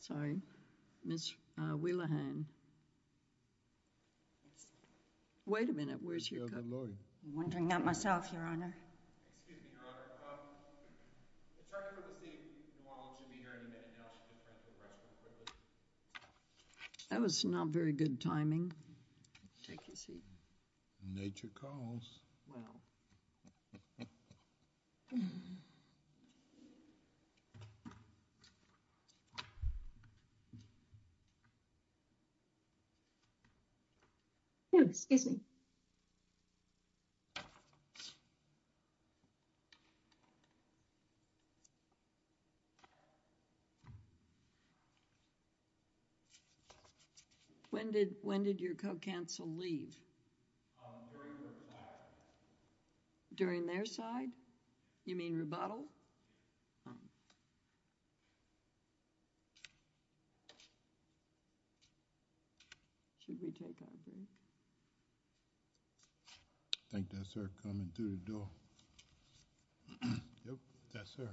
Sorry, Ms. Wheeler-Hann. Excuse me, Your Honor, it's hard to believe that Ms. Wheeler-Hann will be here in a minute. That was not very good timing. Nature calls. Excuse me. When did your co-counsel leave? During their side. During their side? You mean rebuttal? No. I think that's her coming through the door. Yes, sir.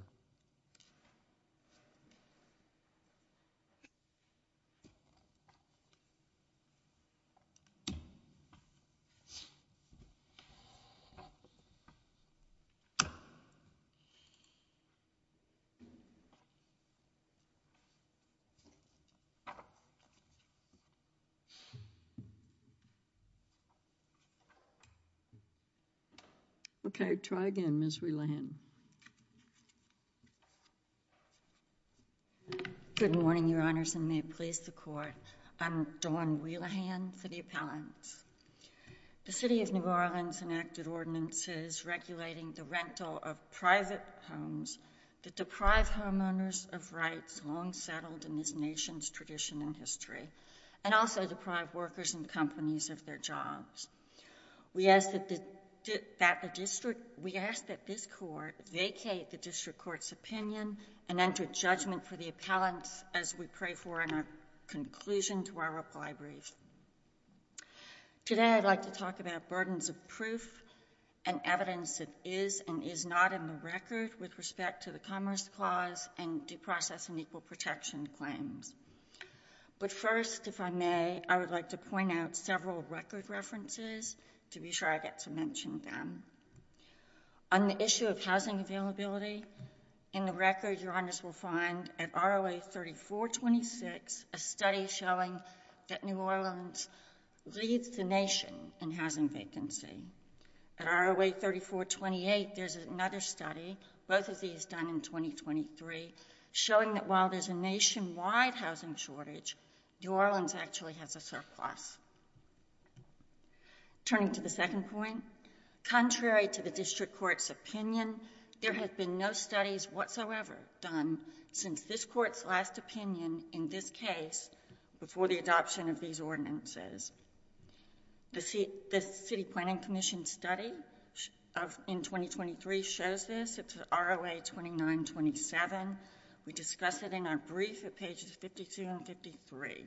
Okay, try again, Ms. Wheeler-Hann. Good morning, Your Honors, and may it please the Court. I'm Dawn Wheeler-Hann, City Appellant. The City of New Orleans enacted ordinances regulating the rental of private homes that deprive homeowners of rights long settled in this nation's tradition and history and also deprive workers and companies of their jobs. We ask that this Court vacate the District Court's opinion and enter judgment for the appellants as we pray for a conclusion to our reply brief. Today I'd like to talk about burdens of proof and evidence that is and is not in the record with respect to the Commerce Clause and due process and equal protection claims. But first, if I may, I would like to point out several record references to be sure I get to mention them. On the issue of housing availability, in the record, Your Honors, we'll find at ROA 3426 a study showing that New Orleans leads the nation in housing vacancy. At ROA 3428, there's another study, both of these done in 2023, showing that while there's a nationwide housing shortage, New Orleans actually has a surplus. Turning to the second point, contrary to the District Court's opinion, there have been no studies whatsoever done since this Court's last opinion in this case before the adoption of these ordinances. The City Planning Commission study in 2023 shows this. It's ROA 2927. We discuss it in our brief at pages 52 and 53.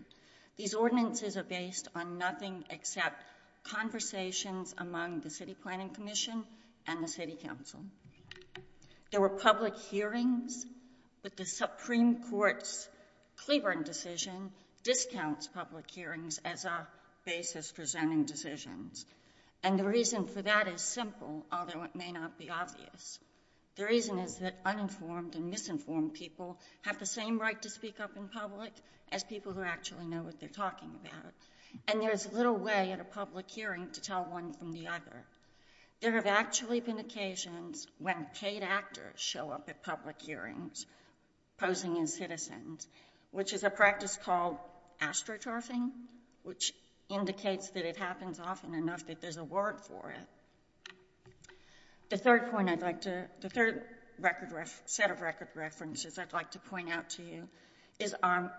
These ordinances are based on nothing except conversations among the City Planning Commission and the City Council. There were public hearings, but the Supreme Court's Cleveland decision discounts public hearings as a basis for zoning decisions. And the reason for that is simple, although it may not be obvious. The reason is that uninformed and misinformed people have the same right to speak up in public as people who actually know what they're talking about. And there's little way at a public hearing to tell one from the other. There have actually been occasions when paid actors show up at public hearings posing as citizens, which is a practice called astroturfing, which indicates that it happens often enough that there's a word for it. The third set of record references I'd like to point out to you is our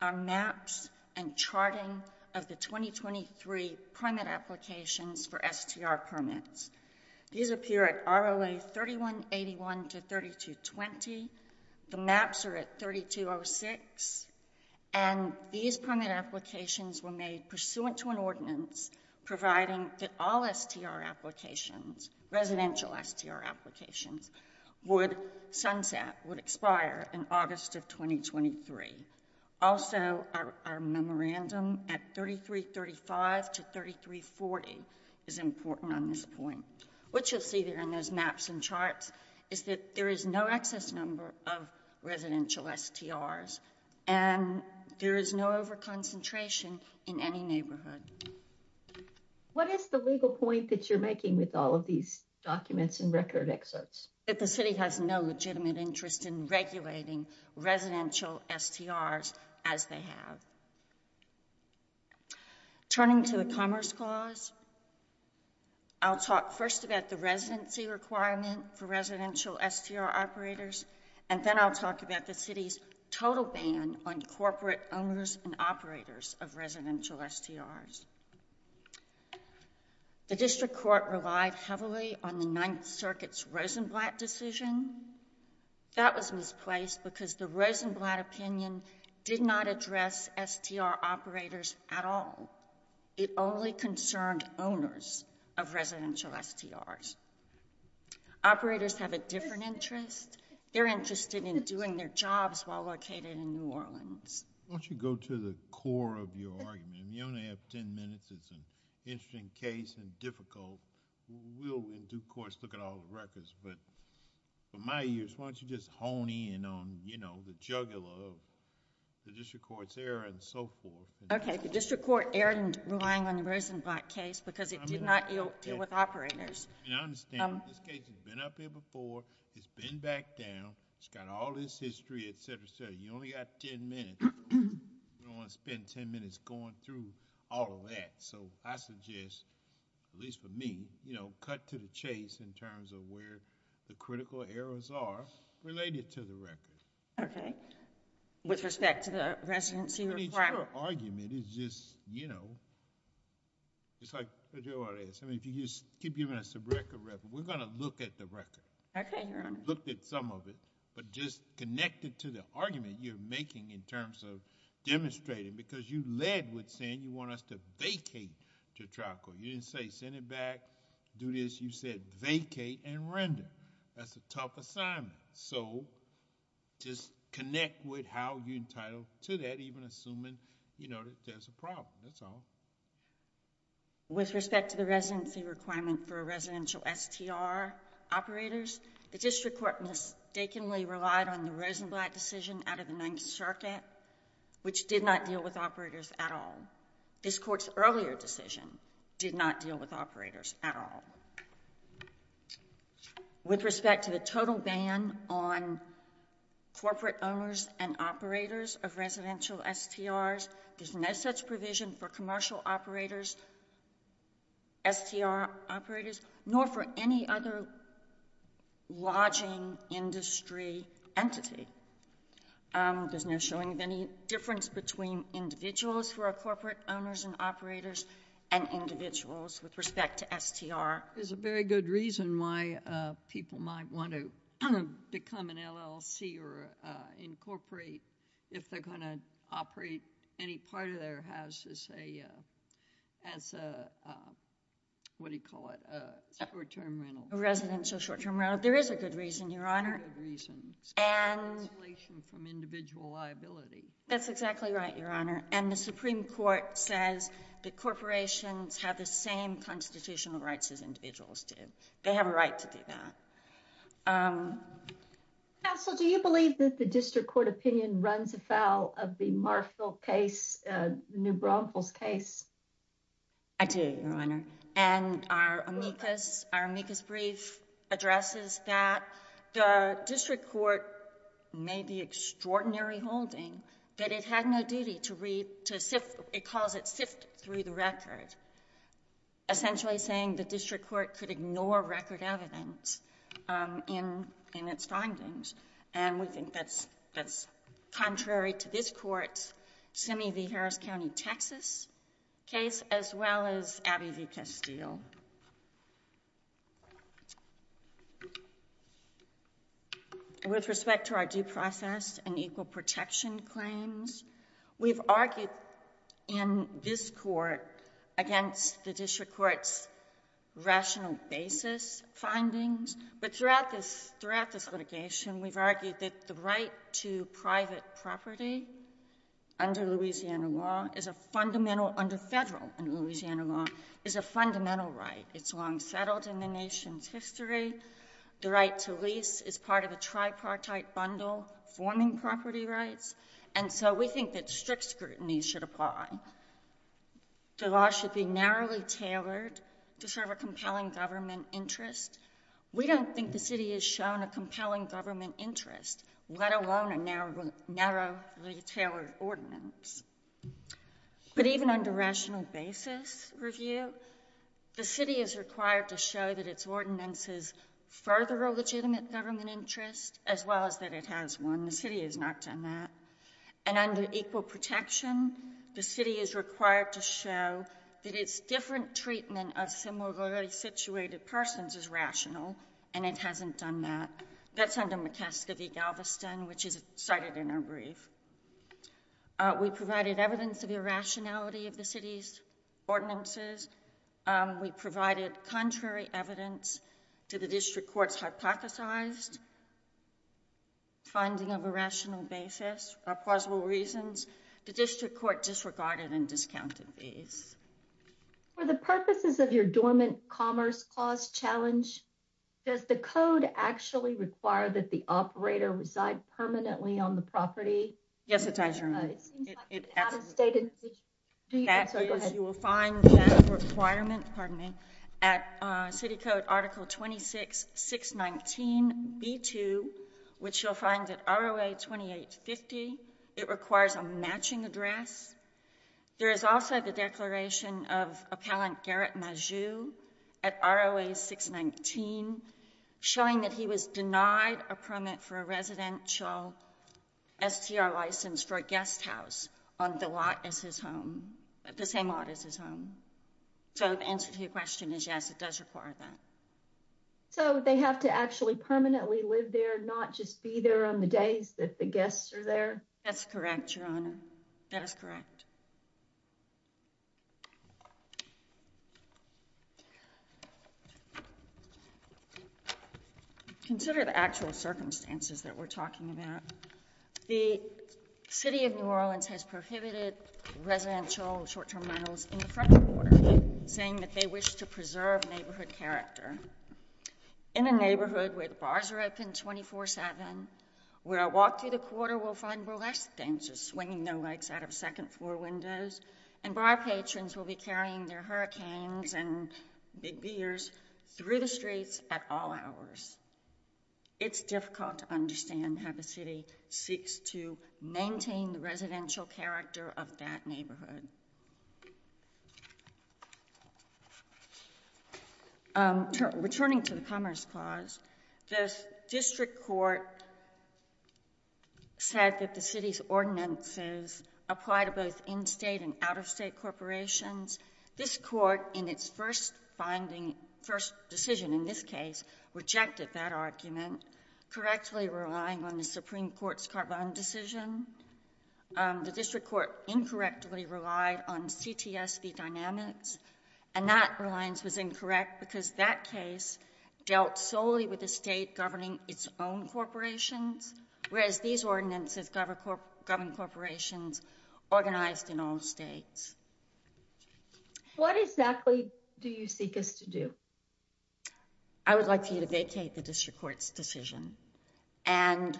maps and charting of the 2023 permit applications for STR permits. These appear at ROA 3181 to 3220. The maps are at 3206. And these permit applications were made pursuant to an ordinance providing that all STR applications, residential STR applications, would sunset, would expire in August of 2023. Also, our memorandum at 3335 to 3340 is important on this point. What you'll see there in those maps and charts is that there is no excess number of residential STRs, and there is no overconcentration in any neighborhood. What is the legal point that you're making with all of these documents and record excerpts? That the city has no legitimate interest in regulating residential STRs as they have. Turning to the Commerce Clause, I'll talk first about the residency requirement for residential STR operators, and then I'll talk about the city's total ban on corporate owners and operators of residential STRs. The District Court relied heavily on the Ninth Circuit's Rosenblatt decision. That was misplaced because the Rosenblatt opinion did not address STR operators at all. It only concerned owners of residential STRs. Operators have a different interest. They're interested in doing their jobs while located in New Orleans. Why don't you go to the core of your argument? You only have ten minutes. It's an interesting case and difficult. We'll, in due course, look at all the records, but for my ears, why don't you just hone in on the jugular of the District Court's error and so forth? The District Court erred in relying on the Rosenblatt case because it did not deal with operators. I understand. This case has been up here before. It's been back down. It's got all this history, et cetera, et cetera. You only got ten minutes. You don't want to spend ten minutes going through all of that. I suggest, at least for me, cut to the chase in terms of where the critical errors are related to the records. Okay. With respect to the residency requirement? Your argument is just... If you keep giving us a record record, we're going to look at the record. Okay, Your Honor. Look at some of it, but just connect it to the argument you're making in terms of demonstrating, because you led with saying you want us to vacate to trial court. You didn't say send it back, do this. You said vacate and render. That's a tough assignment, so just connect with how you're entitled to that, even assuming there's a problem, that's all. With respect to the residency requirement for residential STR operators, the district court mistakenly relied on the Rosenblatt decision out of the Ninth Circuit, which did not deal with operators at all. This court's earlier decision did not deal with operators at all. With respect to the total ban on corporate owners and operators of residential STRs, there's no such provision for commercial operators, STR operators, nor for any other lodging industry entity. There's no showing of any difference between individuals who are corporate owners and operators and individuals with respect to STR. There's a very good reason why people might want to become an LLC or incorporate if they're going to operate any part of their house as a, what do you call it, a short-term rental. A residential short-term rental. There is a good reason, Your Honor. A good reason. It's a cancellation from individual liability. That's exactly right, Your Honor. And the Supreme Court says the corporations have the same constitutional rights as individuals do. They have a right to do that. Counsel, do you believe that the district court opinion runs afoul of the Marfil case, New Braunfels case? I do, Your Honor. And our amicus brief addresses that. The district court made the extraordinary holding that it had no duty to read, to sift, it calls it sift through the record, essentially saying the district court could ignore record evidence in its findings. And we think that's contrary to this court's Simi v. Harris County, Texas case as well as Abbey v. Castile. With respect to our due process and equal protection claims, we've argued in this court against the district court's rational basis findings. But throughout this litigation, we've argued that the right to private property under Louisiana law is a fundamental under federal Louisiana law, is a fundamental right. It's long settled in the nation's history. The right to lease is part of a tripartite bundle forming property rights. And so we think that strict scrutiny should apply. The law should be narrowly tailored to serve a compelling government interest. We don't think the city has shown a compelling government interest, let alone a narrowly tailored ordinance. But even under rational basis review, the city is required to show that its ordinance is further a legitimate government interest as well as that it has one. The city has not done that. And under equal protection, the city is required to show that its different treatment of similarly situated persons is rational, and it hasn't done that. That's under McCaskill v. Galveston, which is cited in our brief. We provided evidence of irrationality of the city's ordinances. We provided contrary evidence to the district court's hypothesized finding of a rational basis or plausible reasons. The district court disregarded and discounted these. For the purposes of your dormant commerce clause challenge, does the code actually require that the operator reside permanently on the property? Yes, it does, Your Honor. It seems like an out-of-state institution. That is, you will find that requirement, pardon me, at city code article 26619b2, which you'll find at ROA 2850. It requires a matching address. There is also the declaration of appellant Garrett Majew at ROA 619, showing that he was denied a permit for a residential STR license for a guest house on the same lot as his home. So the answer to your question is yes, it does require that. So they have to actually permanently live there, not just be there on the days that the guests are there? That's correct, Your Honor. That is correct. Consider the actual circumstances that we're talking about. The city of New Orleans has prohibited residential short-term rentals in the French Quarter, saying that they wish to preserve neighborhood character. In a neighborhood where the bars are open 24-7, where a walk through the quarter will find burlesque dancers swinging their legs out of second-floor windows, and bar patrons will be carrying their hurricanes and big beers through the streets at all hours. It's difficult to understand how the city seeks to maintain the residential character of that neighborhood. Returning to the Commerce Clause, the district court said that the city's ordinances apply to both in-state and out-of-state corporations. This court, in its first decision in this case, rejected that argument, correctly relying on the Supreme Court's Carvine decision. The district court incorrectly relied on CTSV dynamics, and that reliance was incorrect because that case dealt solely with the state governing its own corporations, whereas these ordinances govern corporations organized in all states. I would like for you to vacate the district court's decision and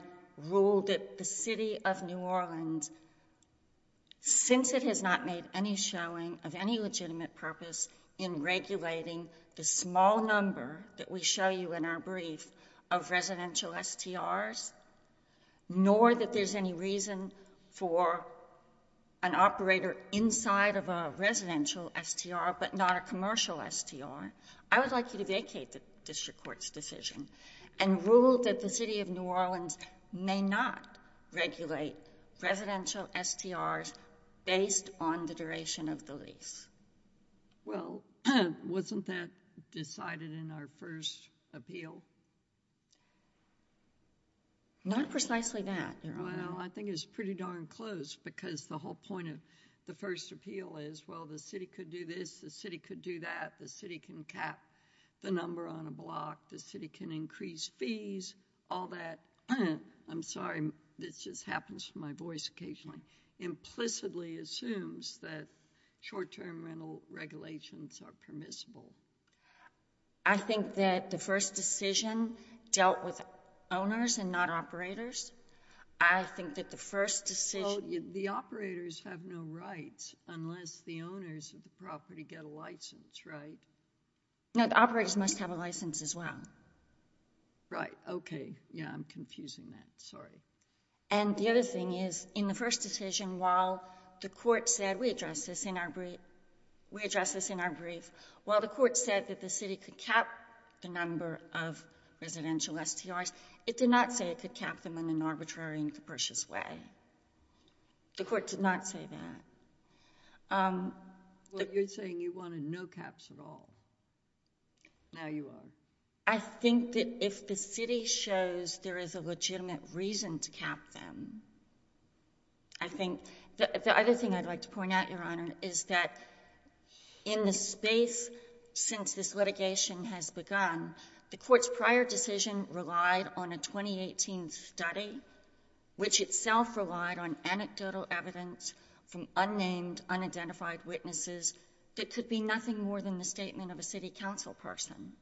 rule that the city of New Orleans, since it has not made any showing of any legitimate purpose in regulating the small number that we show you in our brief of residential STRs, nor that there's any reason for an operator inside of a residential STR but not a commercial STR, I would like you to vacate the district court's decision and rule that the city of New Orleans may not regulate residential STRs based on the duration of the lease. Well, wasn't that decided in our first appeal? Not precisely that, Your Honor. Well, I think it's pretty darn close because the whole point of the first appeal is, well, the city could do this, the city could do that, the city can cap the number on a block, the city can increase fees, all that. I'm sorry, this just happens to my voice occasionally. The first decision implicitly assumes that short-term rental regulations are permissible. I think that the first decision dealt with owners and not operators. I think that the first decision... Well, the operators have no rights unless the owners of the property get a license, right? No, the operators must have a license as well. Right, okay, yeah, I'm confusing that, sorry. And the other thing is, in the first decision, while the court said, we addressed this in our brief, while the court said that the city could cap the number of residential STRs, it did not say it could cap them in an arbitrary and capricious way. The court did not say that. Well, you're saying you wanted no caps at all. Now you won't. I think that if the city shows there is a legitimate reason to cap them, I think... The other thing I'd like to point out, Your Honour, is that in the space since this litigation has begun, the court's prior decision relied on a 2018 study, which itself relied on anecdotal evidence from unnamed, unidentified witnesses that could be nothing more than the statement of a city council person.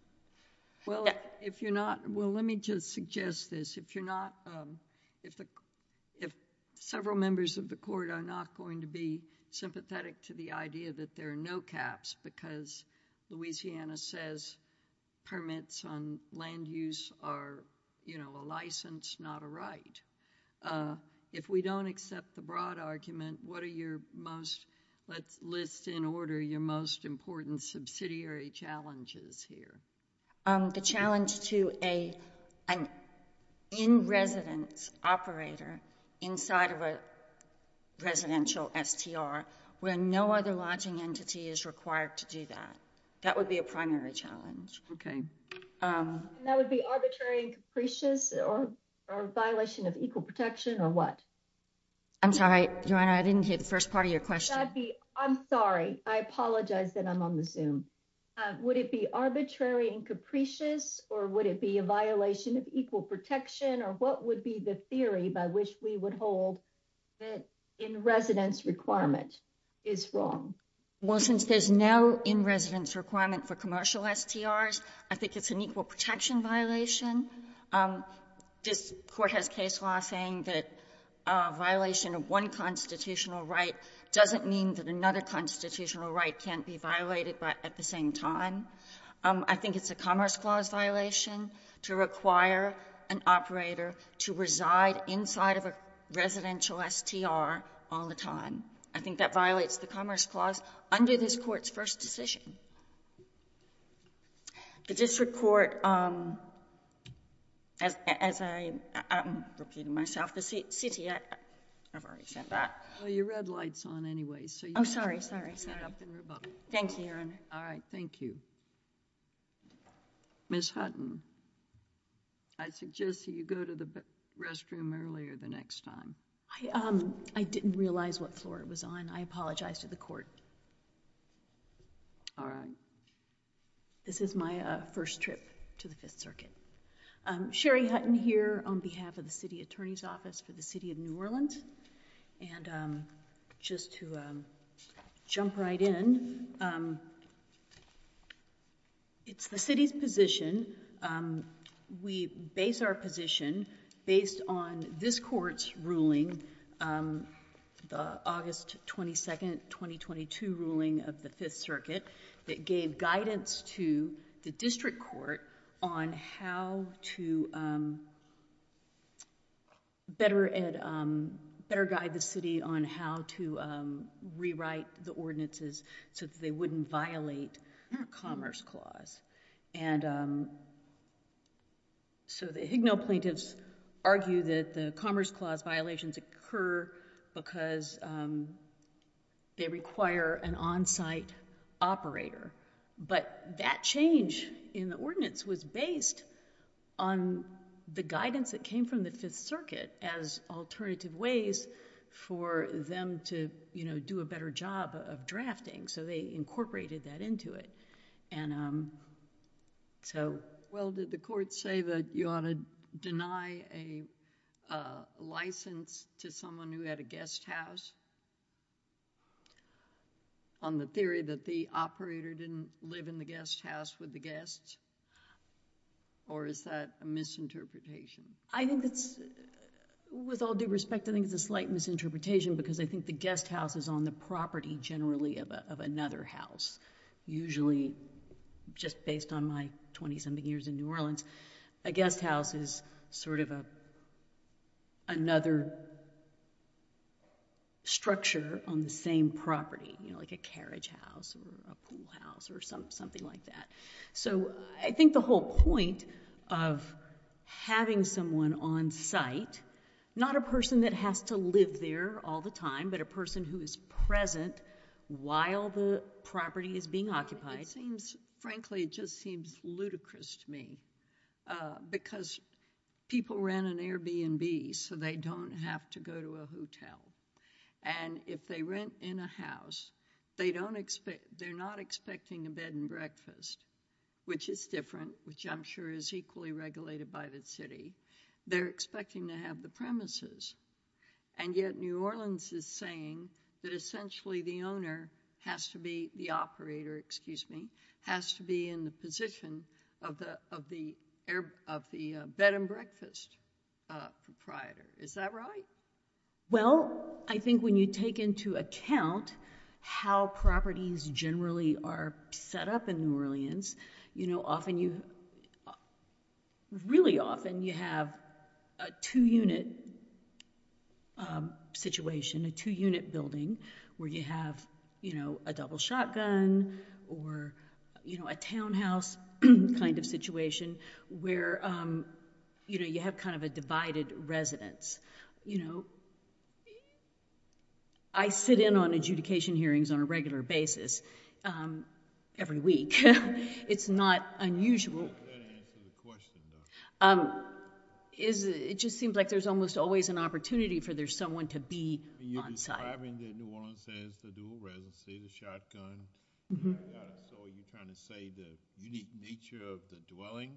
Well, if you're not... Well, let me just suggest this. If you're not... If several members of the court are not going to be sympathetic to the idea that there are no caps because Louisiana says permits on land use are, you know, a license, not a right, if we don't accept the broad argument, what are your most, let's list in order, your most important subsidiary challenges here? The challenge to an in-residence operator inside of a residential STR where no other lodging entity is required to do that. That would be a primary challenge. Okay. And that would be arbitrary and capricious or a violation of equal protection or what? I'm sorry, Joanna. I didn't hear the first part of your question. I'm sorry. I apologize that I'm on the Zoom. Would it be arbitrary and capricious or would it be a violation of equal protection or what would be the theory by which we would hold that in-residence requirement is wrong? Well, since there's no in-residence requirement for commercial STRs, I think it's an equal protection violation. This Court has case law saying that a violation of one constitutional right doesn't mean that another constitutional right can't be violated at the same time. I think it's a Commerce Clause violation to require an operator to reside inside of a residential STR all the time. I think that violates the Commerce Clause under this Court's first decision. The District Court, as I'm repeating myself, the city, I've already said that. Well, your red light's on anyway. Oh, sorry, sorry, sorry. Thank you, Your Honor. All right. Thank you. Ms. Hutton, I suggest that you go to the restroom earlier the next time. I didn't realize what floor it was on. I apologize to the Court. All right. This is my first trip to the Fifth Circuit. Sherry Hutton here on behalf of the City Attorney's Office for the City of New Orleans. And just to jump right in, it's the city's position. We base our position based on this Court's ruling, the August 22nd, 2022 ruling of the Fifth Circuit that gave guidance to the District Court on how to better guide the city on how to rewrite the ordinances so that they wouldn't violate Commerce Clause. And so the Higno plaintiffs argue that the Commerce Clause violations occur because they require an on-site operator. But that change in the ordinance was based on the guidance that came from the Fifth Circuit as alternative ways for them to do a better job of drafting. So they incorporated that into it. And so... Well, did the Court say that you ought to deny a license to someone who had a guest house on the theory that the operator didn't live in the guest house with the guests? Or is that a misinterpretation? I think that's, with all due respect, I think it's a slight misinterpretation because I think the guest house is on the property generally of another house. Usually, just based on my 20-something years in New Orleans, a guest house is sort of another structure on the same property, like a carriage house or a pool house or something like that. So I think the whole point of having someone on site, not a person that has to live there all the time, but a person who is present while the property is being occupied... It seems, frankly, it just seems ludicrous to me because people rent an Airbnb so they don't have to go to a hotel. And if they rent in a house, they're not expecting a bed and breakfast, which is different, which I'm sure is equally regulated by the city. They're expecting to have the premises. And yet New Orleans is saying that essentially the owner has to be, the operator, excuse me, has to be in the position of the bed and breakfast proprietor. Is that right? Well, I think when you take into account how properties generally are set up in New Orleans, really often you have a two-unit situation, a two-unit building where you have a double shotgun or a townhouse kind of situation where you have kind of a divided residence. I sit in on adjudication hearings on a regular basis every week and it's not unusual. I'm not sure that answers the question, though. It just seems like there's almost always an opportunity for there's someone to be on site. You're describing that New Orleans has the dual residency, the shotgun. I saw you kind of say the unique nature of the dwelling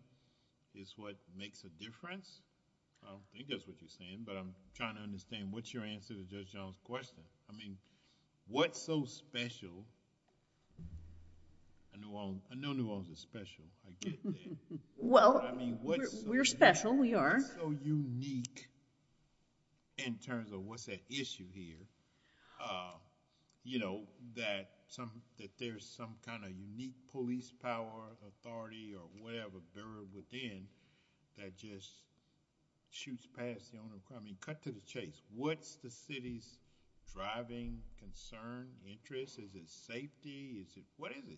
is what makes a difference. I don't think that's what you're saying, but I'm trying to understand what's your answer to Judge Jones' question. What's so special? I know New Orleans is special. I get that. Well, we're special. We are. What's so unique in terms of what's at issue here that there's some kind of unique police power, authority, or whatever buried within that just shoots past the owner of the property? Cut to the chase. What's the city's driving concern, interest? Is it safety? What is it?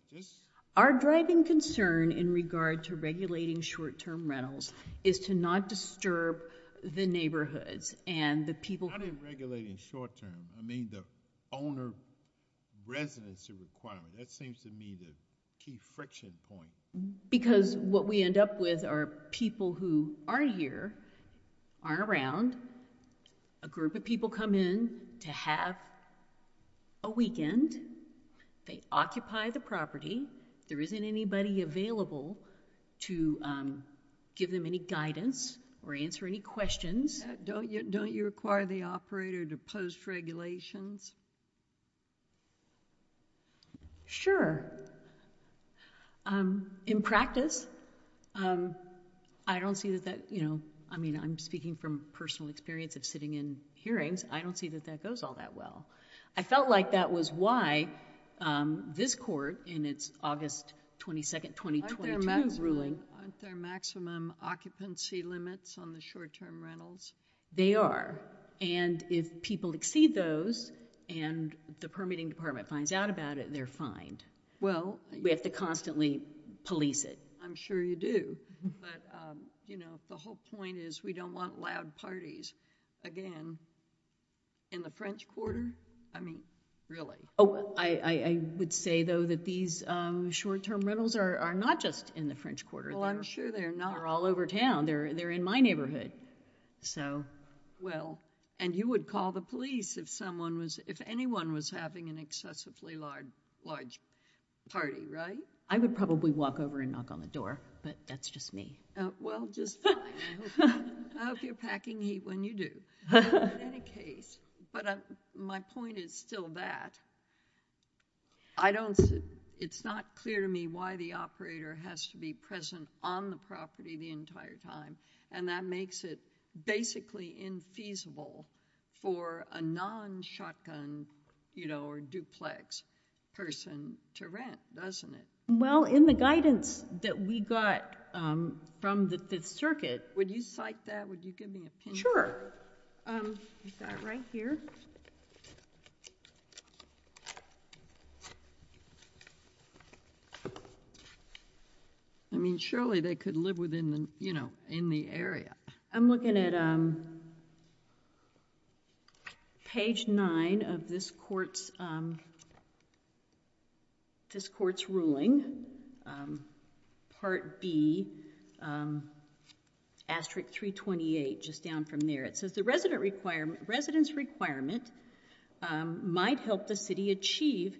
Our driving concern in regard to regulating short-term rentals is to not disturb the neighborhoods and the people. Not in regulating short-term. I mean the owner residency requirement. That seems to me the key friction point. Because what we end up with are people who aren't here, aren't around. A group of people come in to have a weekend. They occupy the property. There isn't anybody available to give them any guidance or answer any questions. Don't you require the operator to post regulations? Sure. In practice, I don't see that that... I mean I'm speaking from personal experience of sitting in hearings. I don't see that that goes all that well. I felt like that was why this court in its August 22, 2022 ruling... Aren't there maximum occupancy limits on the short-term rentals? They are. If people exceed those and the permitting department finds out about it, they're fined. Well... We have to constantly police it. I'm sure you do. But the whole point is we don't want loud parties. Again, in the French Quarter? I mean really. I would say though that these short-term rentals are not just in the French Quarter. Well, I'm sure they're not. They're all over town. They're in my neighborhood. Well, and you would call the police if someone was... I would probably walk over and knock on the door, but that's just me. Well, just fine. I hope you're packing heat when you do. In any case, but my point is still that. It's not clear to me why the operator has to be present on the property the entire time, and that makes it basically infeasible for a non-shotgun or duplex person to rent, doesn't it? Well, in the guidance that we got from the Fifth Circuit... Would you cite that? Would you give me a pen? Sure. I've got it right here. I mean, surely they could live within the area. I'm looking at page 9 of this court's ruling, Part B, Asterix 328, just down from there. It says the residence requirement might help the city achieve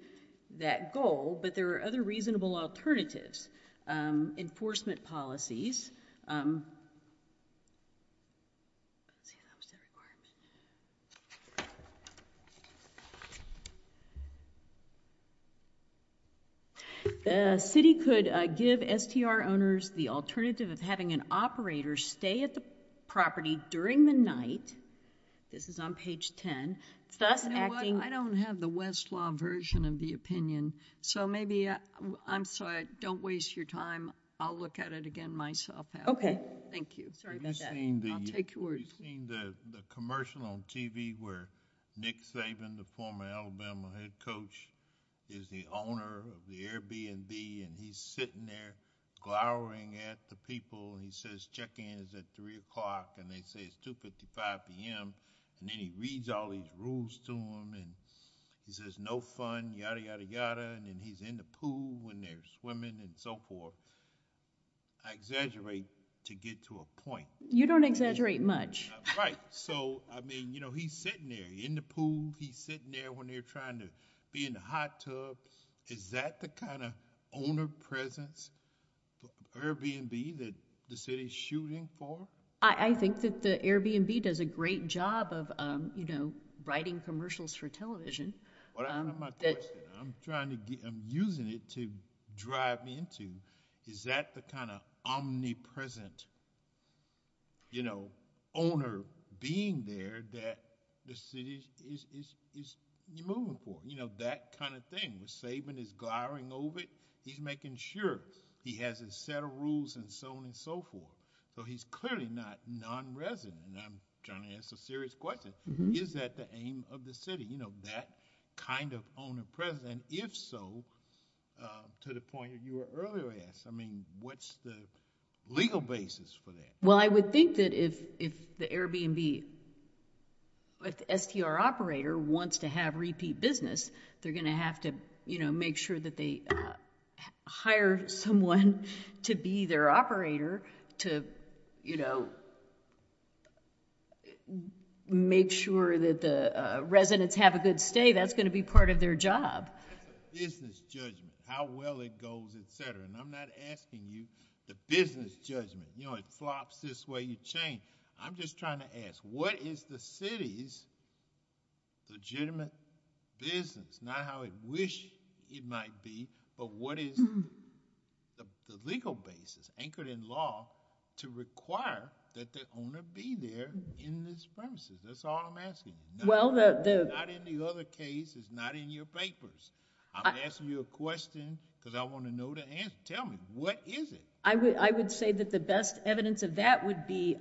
that goal, but there are other reasonable alternatives. Enforcement policies. The city could give STR owners the alternative of having an operator stay at the property during the night. This is on page 10. I don't have the Westlaw version of the opinion, so maybe... I'm sorry. Don't waste your time. I'll look at it again myself. Okay. Thank you. Sorry about that. I'll take your words. You've seen the commercial on TV where Nick Saban, the former Alabama head coach, is the owner of the Airbnb, and he's sitting there glowering at the people, and he says, check-in is at 3 o'clock, and they say it's 2.55 p.m., and then he reads all these rules to them, and he says, no fun, yada, yada, yada, and then he's in the pool when they're swimming and so forth. I exaggerate to get to a point. You don't exaggerate much. Right. So, I mean, you know, he's sitting there in the pool. He's sitting there when they're trying to be in the hot tub. Is that the kind of owner presence, Airbnb, that the city's shooting for? I think that the Airbnb does a great job of, you know, writing commercials for television. I'm using it to drive me into is that the kind of omnipresent, you know, owner being there that the city is moving for? You know, that kind of thing. Saban is glowering over it. He's making sure he has a set of rules and so on and so forth. So he's clearly not non-resident, and I'm trying to ask a serious question. Is that the aim of the city? You know, that kind of owner presence? If so, to the point that you were earlier at, I mean, what's the legal basis for that? Well, I would think that if the Airbnb, if the STR operator wants to have repeat business, they're going to have to, you know, make sure that they hire someone to be their operator to, you know, make sure that the residents have a good stay. That's going to be part of their job. That's a business judgment, how well it goes, et cetera. And I'm not asking you the business judgment. You know, it flops this way, you change. I'm just trying to ask, what is the city's legitimate business? Not how it wished it might be, but what is the legal basis, anchored in law, to require that the owner be there in this premises? That's all I'm asking. Not in the other cases, not in your papers. I'm asking you a question because I want to know the answer. Tell me, what is it? I would say that the best evidence of that would be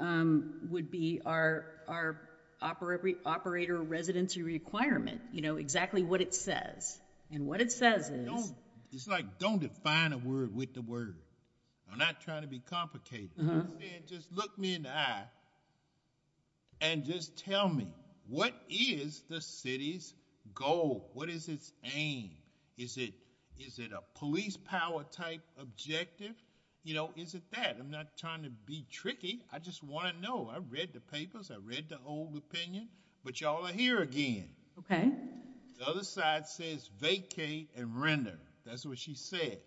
our operator residency requirement. You know, exactly what it says. And what it says is... It's like, don't define a word with the word. I'm not trying to be complicated. Just look me in the eye and just tell me, what is the city's goal? What is its aim? Is it a police power type objective? You know, is it that? I'm not trying to be tricky. I just want to know. I read the papers. I read the old opinion. But y'all are here again. Okay. The other side says vacate and render. That's what she says.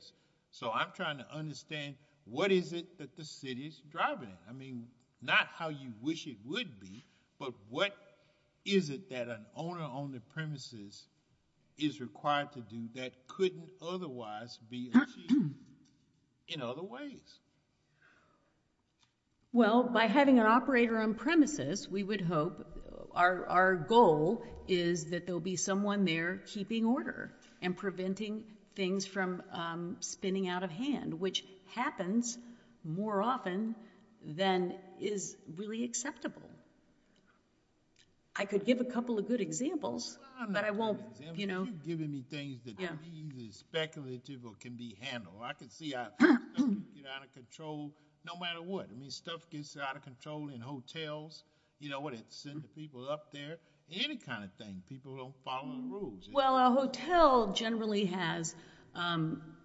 So I'm trying to understand, what is it that the city is driving? I mean, not how you wish it would be, but what is it that an owner on the premises is required to do that couldn't otherwise be achieved in other ways? Well, by having an operator on premises, we would hope, our goal is that there will be someone there keeping order and preventing things from spinning out of hand, which happens more often than is really acceptable. I could give a couple of good examples, but I won't, you know... You're giving me things that are easily speculative or can be handled. I can see how stuff can get out of control no matter what. I mean, stuff gets out of control in hotels, you know, when it's sent to people up there, any kind of thing. People don't follow the rules. Well, a hotel generally has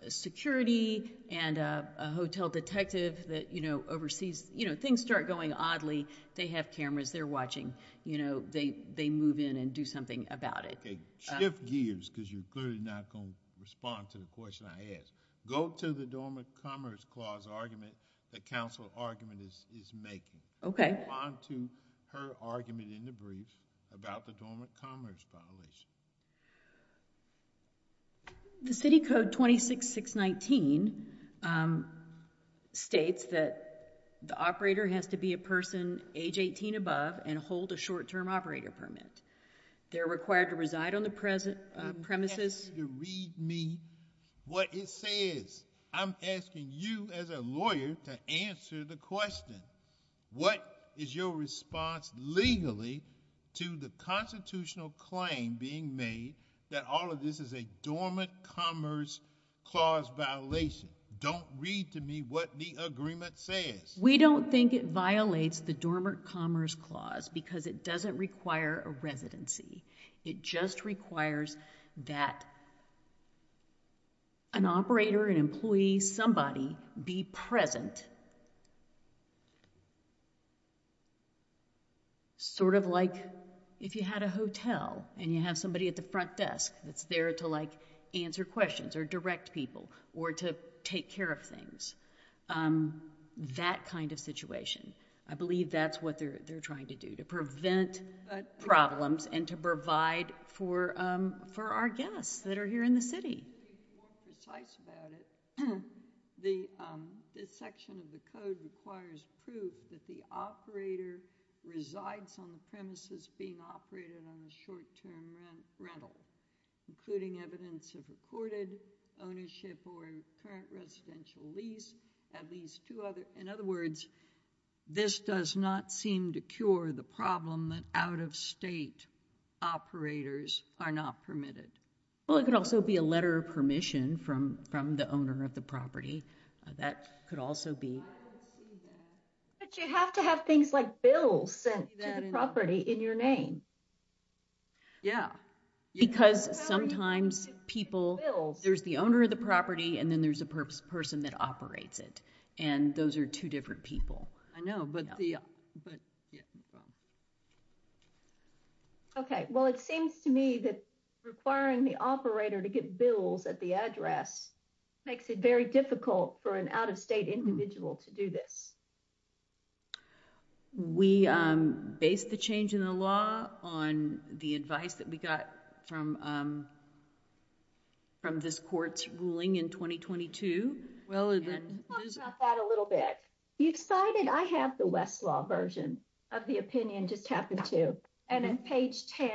security and a hotel detective that oversees. You know, things start going oddly. They have cameras. They're watching. You know, they move in and do something about it. Okay, shift gears, because you're clearly not going to respond to the question I asked. Go to the Dormant Commerce Clause argument that counsel argument is making. Respond to her argument in the brief about the Dormant Commerce Clause. The City Code 26619 states that the operator has to be a person age 18 and above and hold a short-term operator permit. They're required to reside on the premises. I want you to read me what it says. I'm asking you as a lawyer to answer the question. What is your response legally to the constitutional claim being made that all of this is a Dormant Commerce Clause violation? Don't read to me what the agreement says. We don't think it violates the Dormant Commerce Clause because it doesn't require a residency. It just requires that an operator, an employee, somebody be present. Sort of like if you had a hotel and you have somebody at the front desk that's there to, like, answer questions or direct people or to take care of things. That kind of situation. I believe that's what they're trying to do, to prevent problems and to provide for our guests that are here in the city. To be more precise about it, this section of the code requires proof that the operator resides on the premises being operated on a short-term rental, including evidence of accorded ownership or current residential lease. In other words, this does not seem to cure the problem that out-of-state operators are not permitted. Well, it could also be a letter of permission from the owner of the property. That could also be... But you have to have things like bills sent to the property in your name. Yeah. Because sometimes people... There's the owner of the property and then there's a person that operates it, and those are two different people. I know, but the... Okay. Well, it seems to me that requiring the operator to get bills at the address makes it very difficult for an out-of-state individual to do this. We based the change in the law on the advice that we got from this court's ruling in 2022. Talk about that a little bit. You cited... I have the Westlaw version of the opinion, just happen to. And on page 10,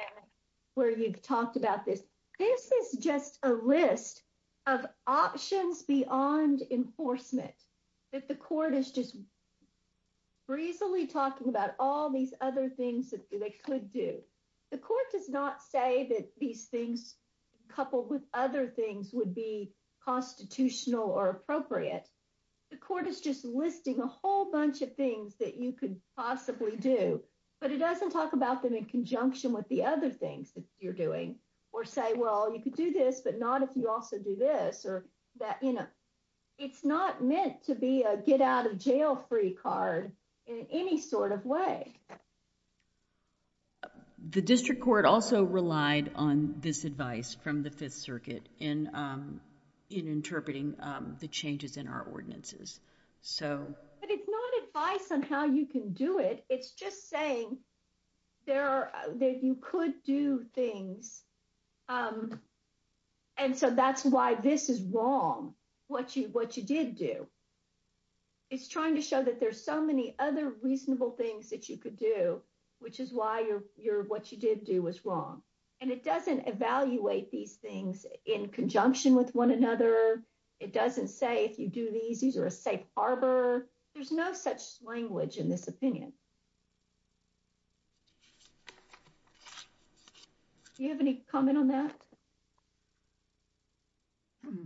where you've talked about this, this is just a list of options beyond enforcement that the court is just breezily talking about all these other things that they could do. The court does not say that these things, coupled with other things, would be constitutional or appropriate. The court is just listing a whole bunch of things that you could possibly do, but it doesn't talk about them in conjunction with the other things that you're doing or say, well, you could do this, but not if you also do this. It's not meant to be a get-out-of-jail-free card in any sort of way. The district court also relied on this advice from the Fifth Circuit in interpreting the changes in our ordinances. But it's not advice on how you can do it. It's just saying that you could do things, and so that's why this is wrong, what you did do. It's trying to show that there's so many other reasonable things that you could do, which is why what you did do was wrong. And it doesn't evaluate these things in conjunction with one another. It doesn't say if you do these, these are a safe harbor. There's no such language in this opinion. Do you have any comment on that? Hmm.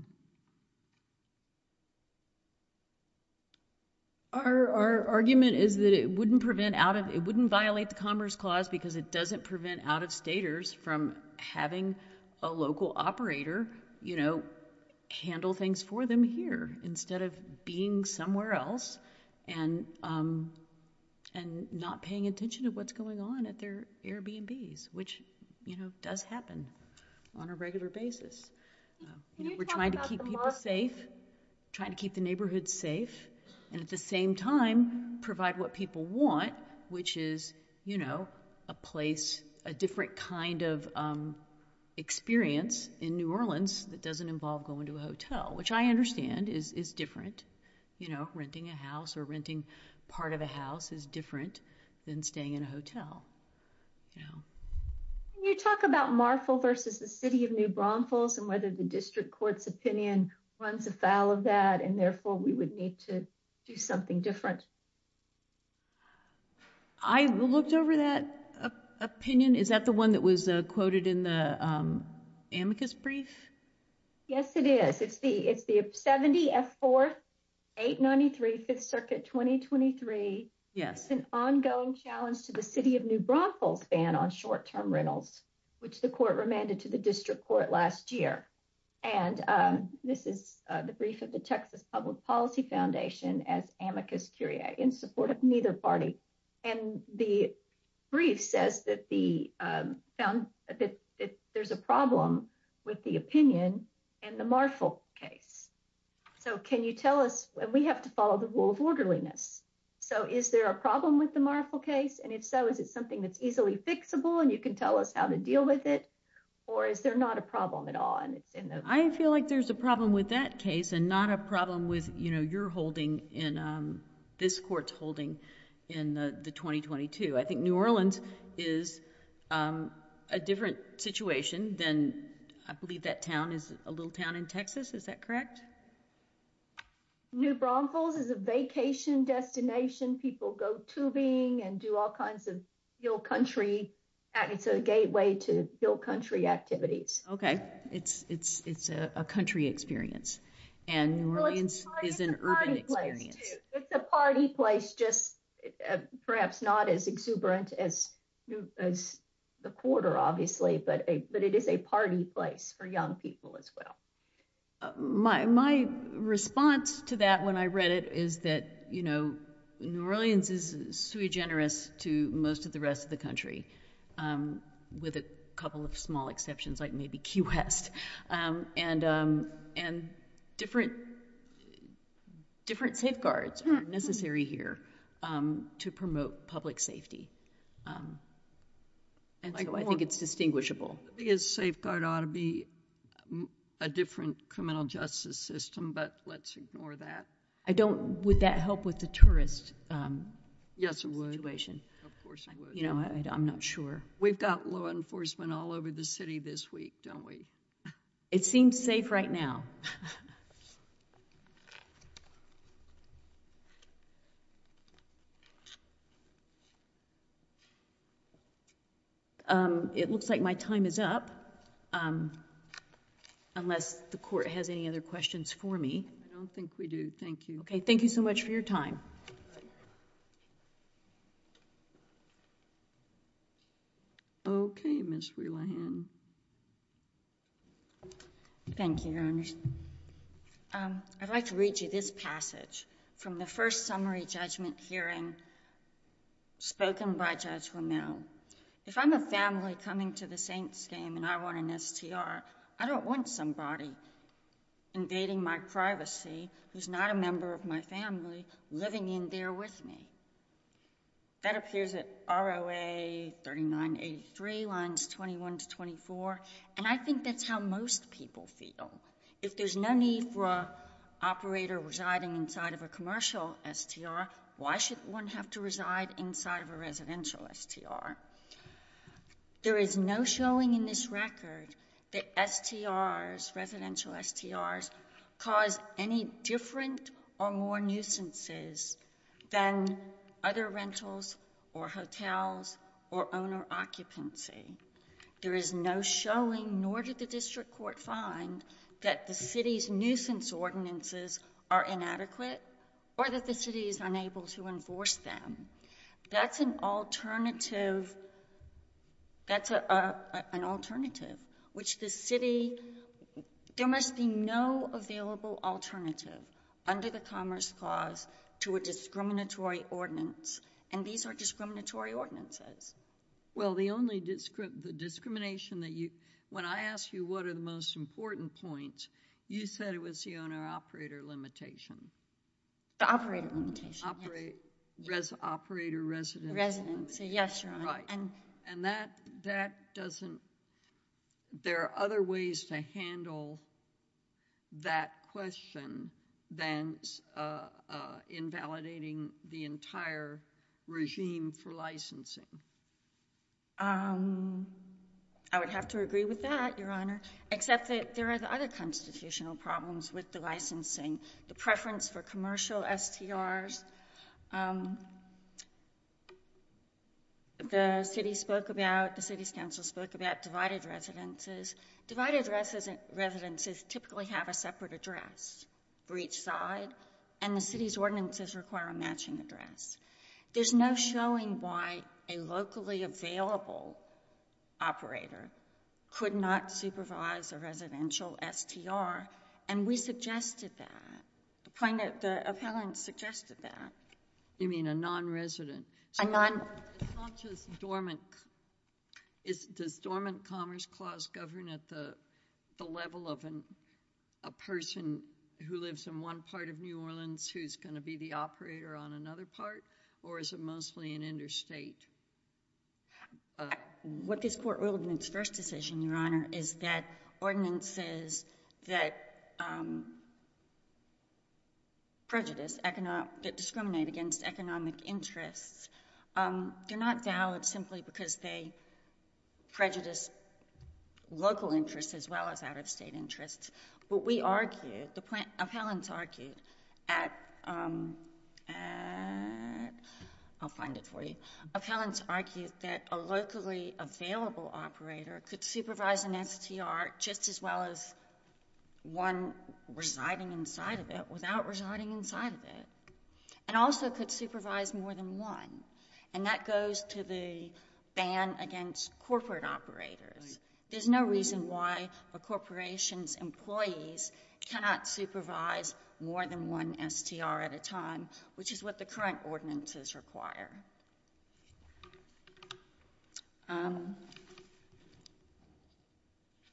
Our argument is that it wouldn't violate the Commerce Clause because it doesn't prevent out-of-staters from having a local operator handle things for them here instead of being somewhere else and not paying attention to what's going on at their Airbnbs, which does happen on a regular basis. We're trying to keep people safe, trying to keep the neighborhoods safe, and at the same time provide what people want, which is a place, a different kind of experience in New Orleans that doesn't involve going to a hotel, which I understand is different. Renting a house or renting part of a house is different than staying in a hotel. Can you talk about Marfil versus the City of New Braunfels and whether the district court's opinion runs afoul of that and therefore we would need to do something different? I looked over that opinion. Is that the one that was quoted in the amicus brief? Yes, it is. It's the 70F4, 893, 5th Circuit, 2023. It's an ongoing challenge to the City of New Braunfels ban on short-term rentals, which the court remanded to the district court last year. This is the brief of the Texas Public Policy Foundation as amicus curiae in support of neither party. The brief says that there's a problem with the opinion and the Marfil case. Can you tell us? We have to follow the rule of orderliness. Is there a problem with the Marfil case? If so, is it something that's easily fixable and you can tell us how to deal with it or is there not a problem at all? I feel like there's a problem with that case and not a problem with your holding in this court's holding in the 2022. I think New Orleans is a different situation than I believe that town is a little town in Texas. Is that correct? New Braunfels is a vacation destination. People go tubing and do all kinds of hill country. It's a gateway to hill country activities. Okay, it's a country experience and New Orleans is an urban experience. It's a party place, just perhaps not as exuberant as the quarter, obviously, but it is a party place for young people as well. My response to that when I read it is that New Orleans is sui generis to most of the rest of the country with a couple of small exceptions like maybe Key West and different safeguards are necessary here to promote public safety. I think it's distinguishable. A safeguard ought to be a different criminal justice system, but let's ignore that. Would that help with the tourist situation? Yes, it would. Of course it would. I'm not sure. We've got law enforcement all over the city this week, don't we? It seems safe right now. It looks like my time is up unless the court has any other questions for me. I don't think we do. Thank you. Okay, thank you so much for your time. Okay, Ms. Rewihan. Thank you, Your Honor. I'd like to read you this passage from the first summary judgment hearing spoken by Judge Romero. If I'm a family coming to the Saints game and I want an STR, I don't want somebody invading my privacy who's not a member of my family living in there with me. That appears at ROA 3983, lines 21 to 24, and I think that's how most people feel. If there's no need for an operator residing inside of a commercial STR, why should one have to reside inside of a residential STR? There is no showing in this record that STRs, residential STRs, cause any different or more nuisances than other rentals or hotels or owner occupancy. There is no showing, nor did the district court find, that the city's nuisance ordinances are inadequate or that the city is unable to enforce them. That's an alternative, which the city... There must be no available alternative under the Commerce Clause to a discriminatory ordinance, and these are discriminatory ordinances. Well, the only discrimination that you... When I asked you what are the most important points, you said it was the owner-operator limitation. The operator limitation, yes. Operator residency. Residency, yes, Your Honor. And that doesn't... There are other ways to handle that question than invalidating the entire regime for licensing. I would have to agree with that, Your Honor, except that there are other constitutional problems with the licensing. The preference for commercial STRs. The city spoke about... The city's council spoke about divided residences. Divided residences typically have a separate address for each side, and the city's ordinances require a matching address. There's no showing why a locally available operator could not supervise a residential STR, and we suggested that. The point that the appellant suggested that. You mean a non-resident? A non... It's not just dormant... Does dormant Commerce Clause govern at the level of a person who lives in one part of New Orleans who's going to be the operator on another part, or is it mostly an interstate? What this court ruled in its first decision, Your Honor, is that ordinances that... ..prejudice, that discriminate against economic interests, they're not valid simply because they prejudice local interests as well as out-of-state interests. What we argued, the appellants argued, at... I'll find it for you. Appellants argued that a locally available operator could supervise an STR just as well as one residing inside of it without residing inside of it, and also could supervise more than one, and that goes to the ban against corporate operators. There's no reason why a corporation's employees cannot supervise more than one STR at a time, which is what the current ordinances require.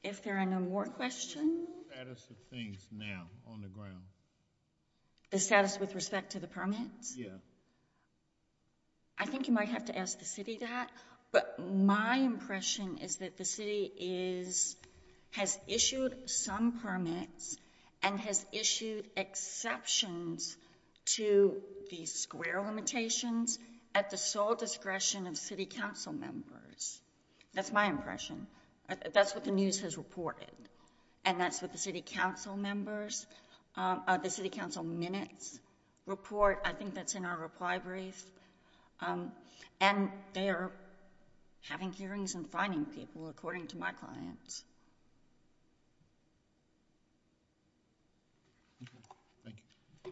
If there are no more questions... The status of things now on the ground. The status with respect to the permits? Yeah. I think you might have to ask the city that, but my impression is that the city is... has issued some permits and has issued exceptions to the square limitations at the sole discretion of city council members. That's my impression. That's what the news has reported, and that's what the city council members... the city council minutes report. I think that's in our reply brief. And they are having hearings and finding people, according to my clients.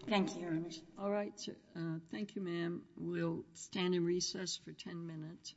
Thank you. All right. Thank you, ma'am. We'll stand in recess for ten minutes.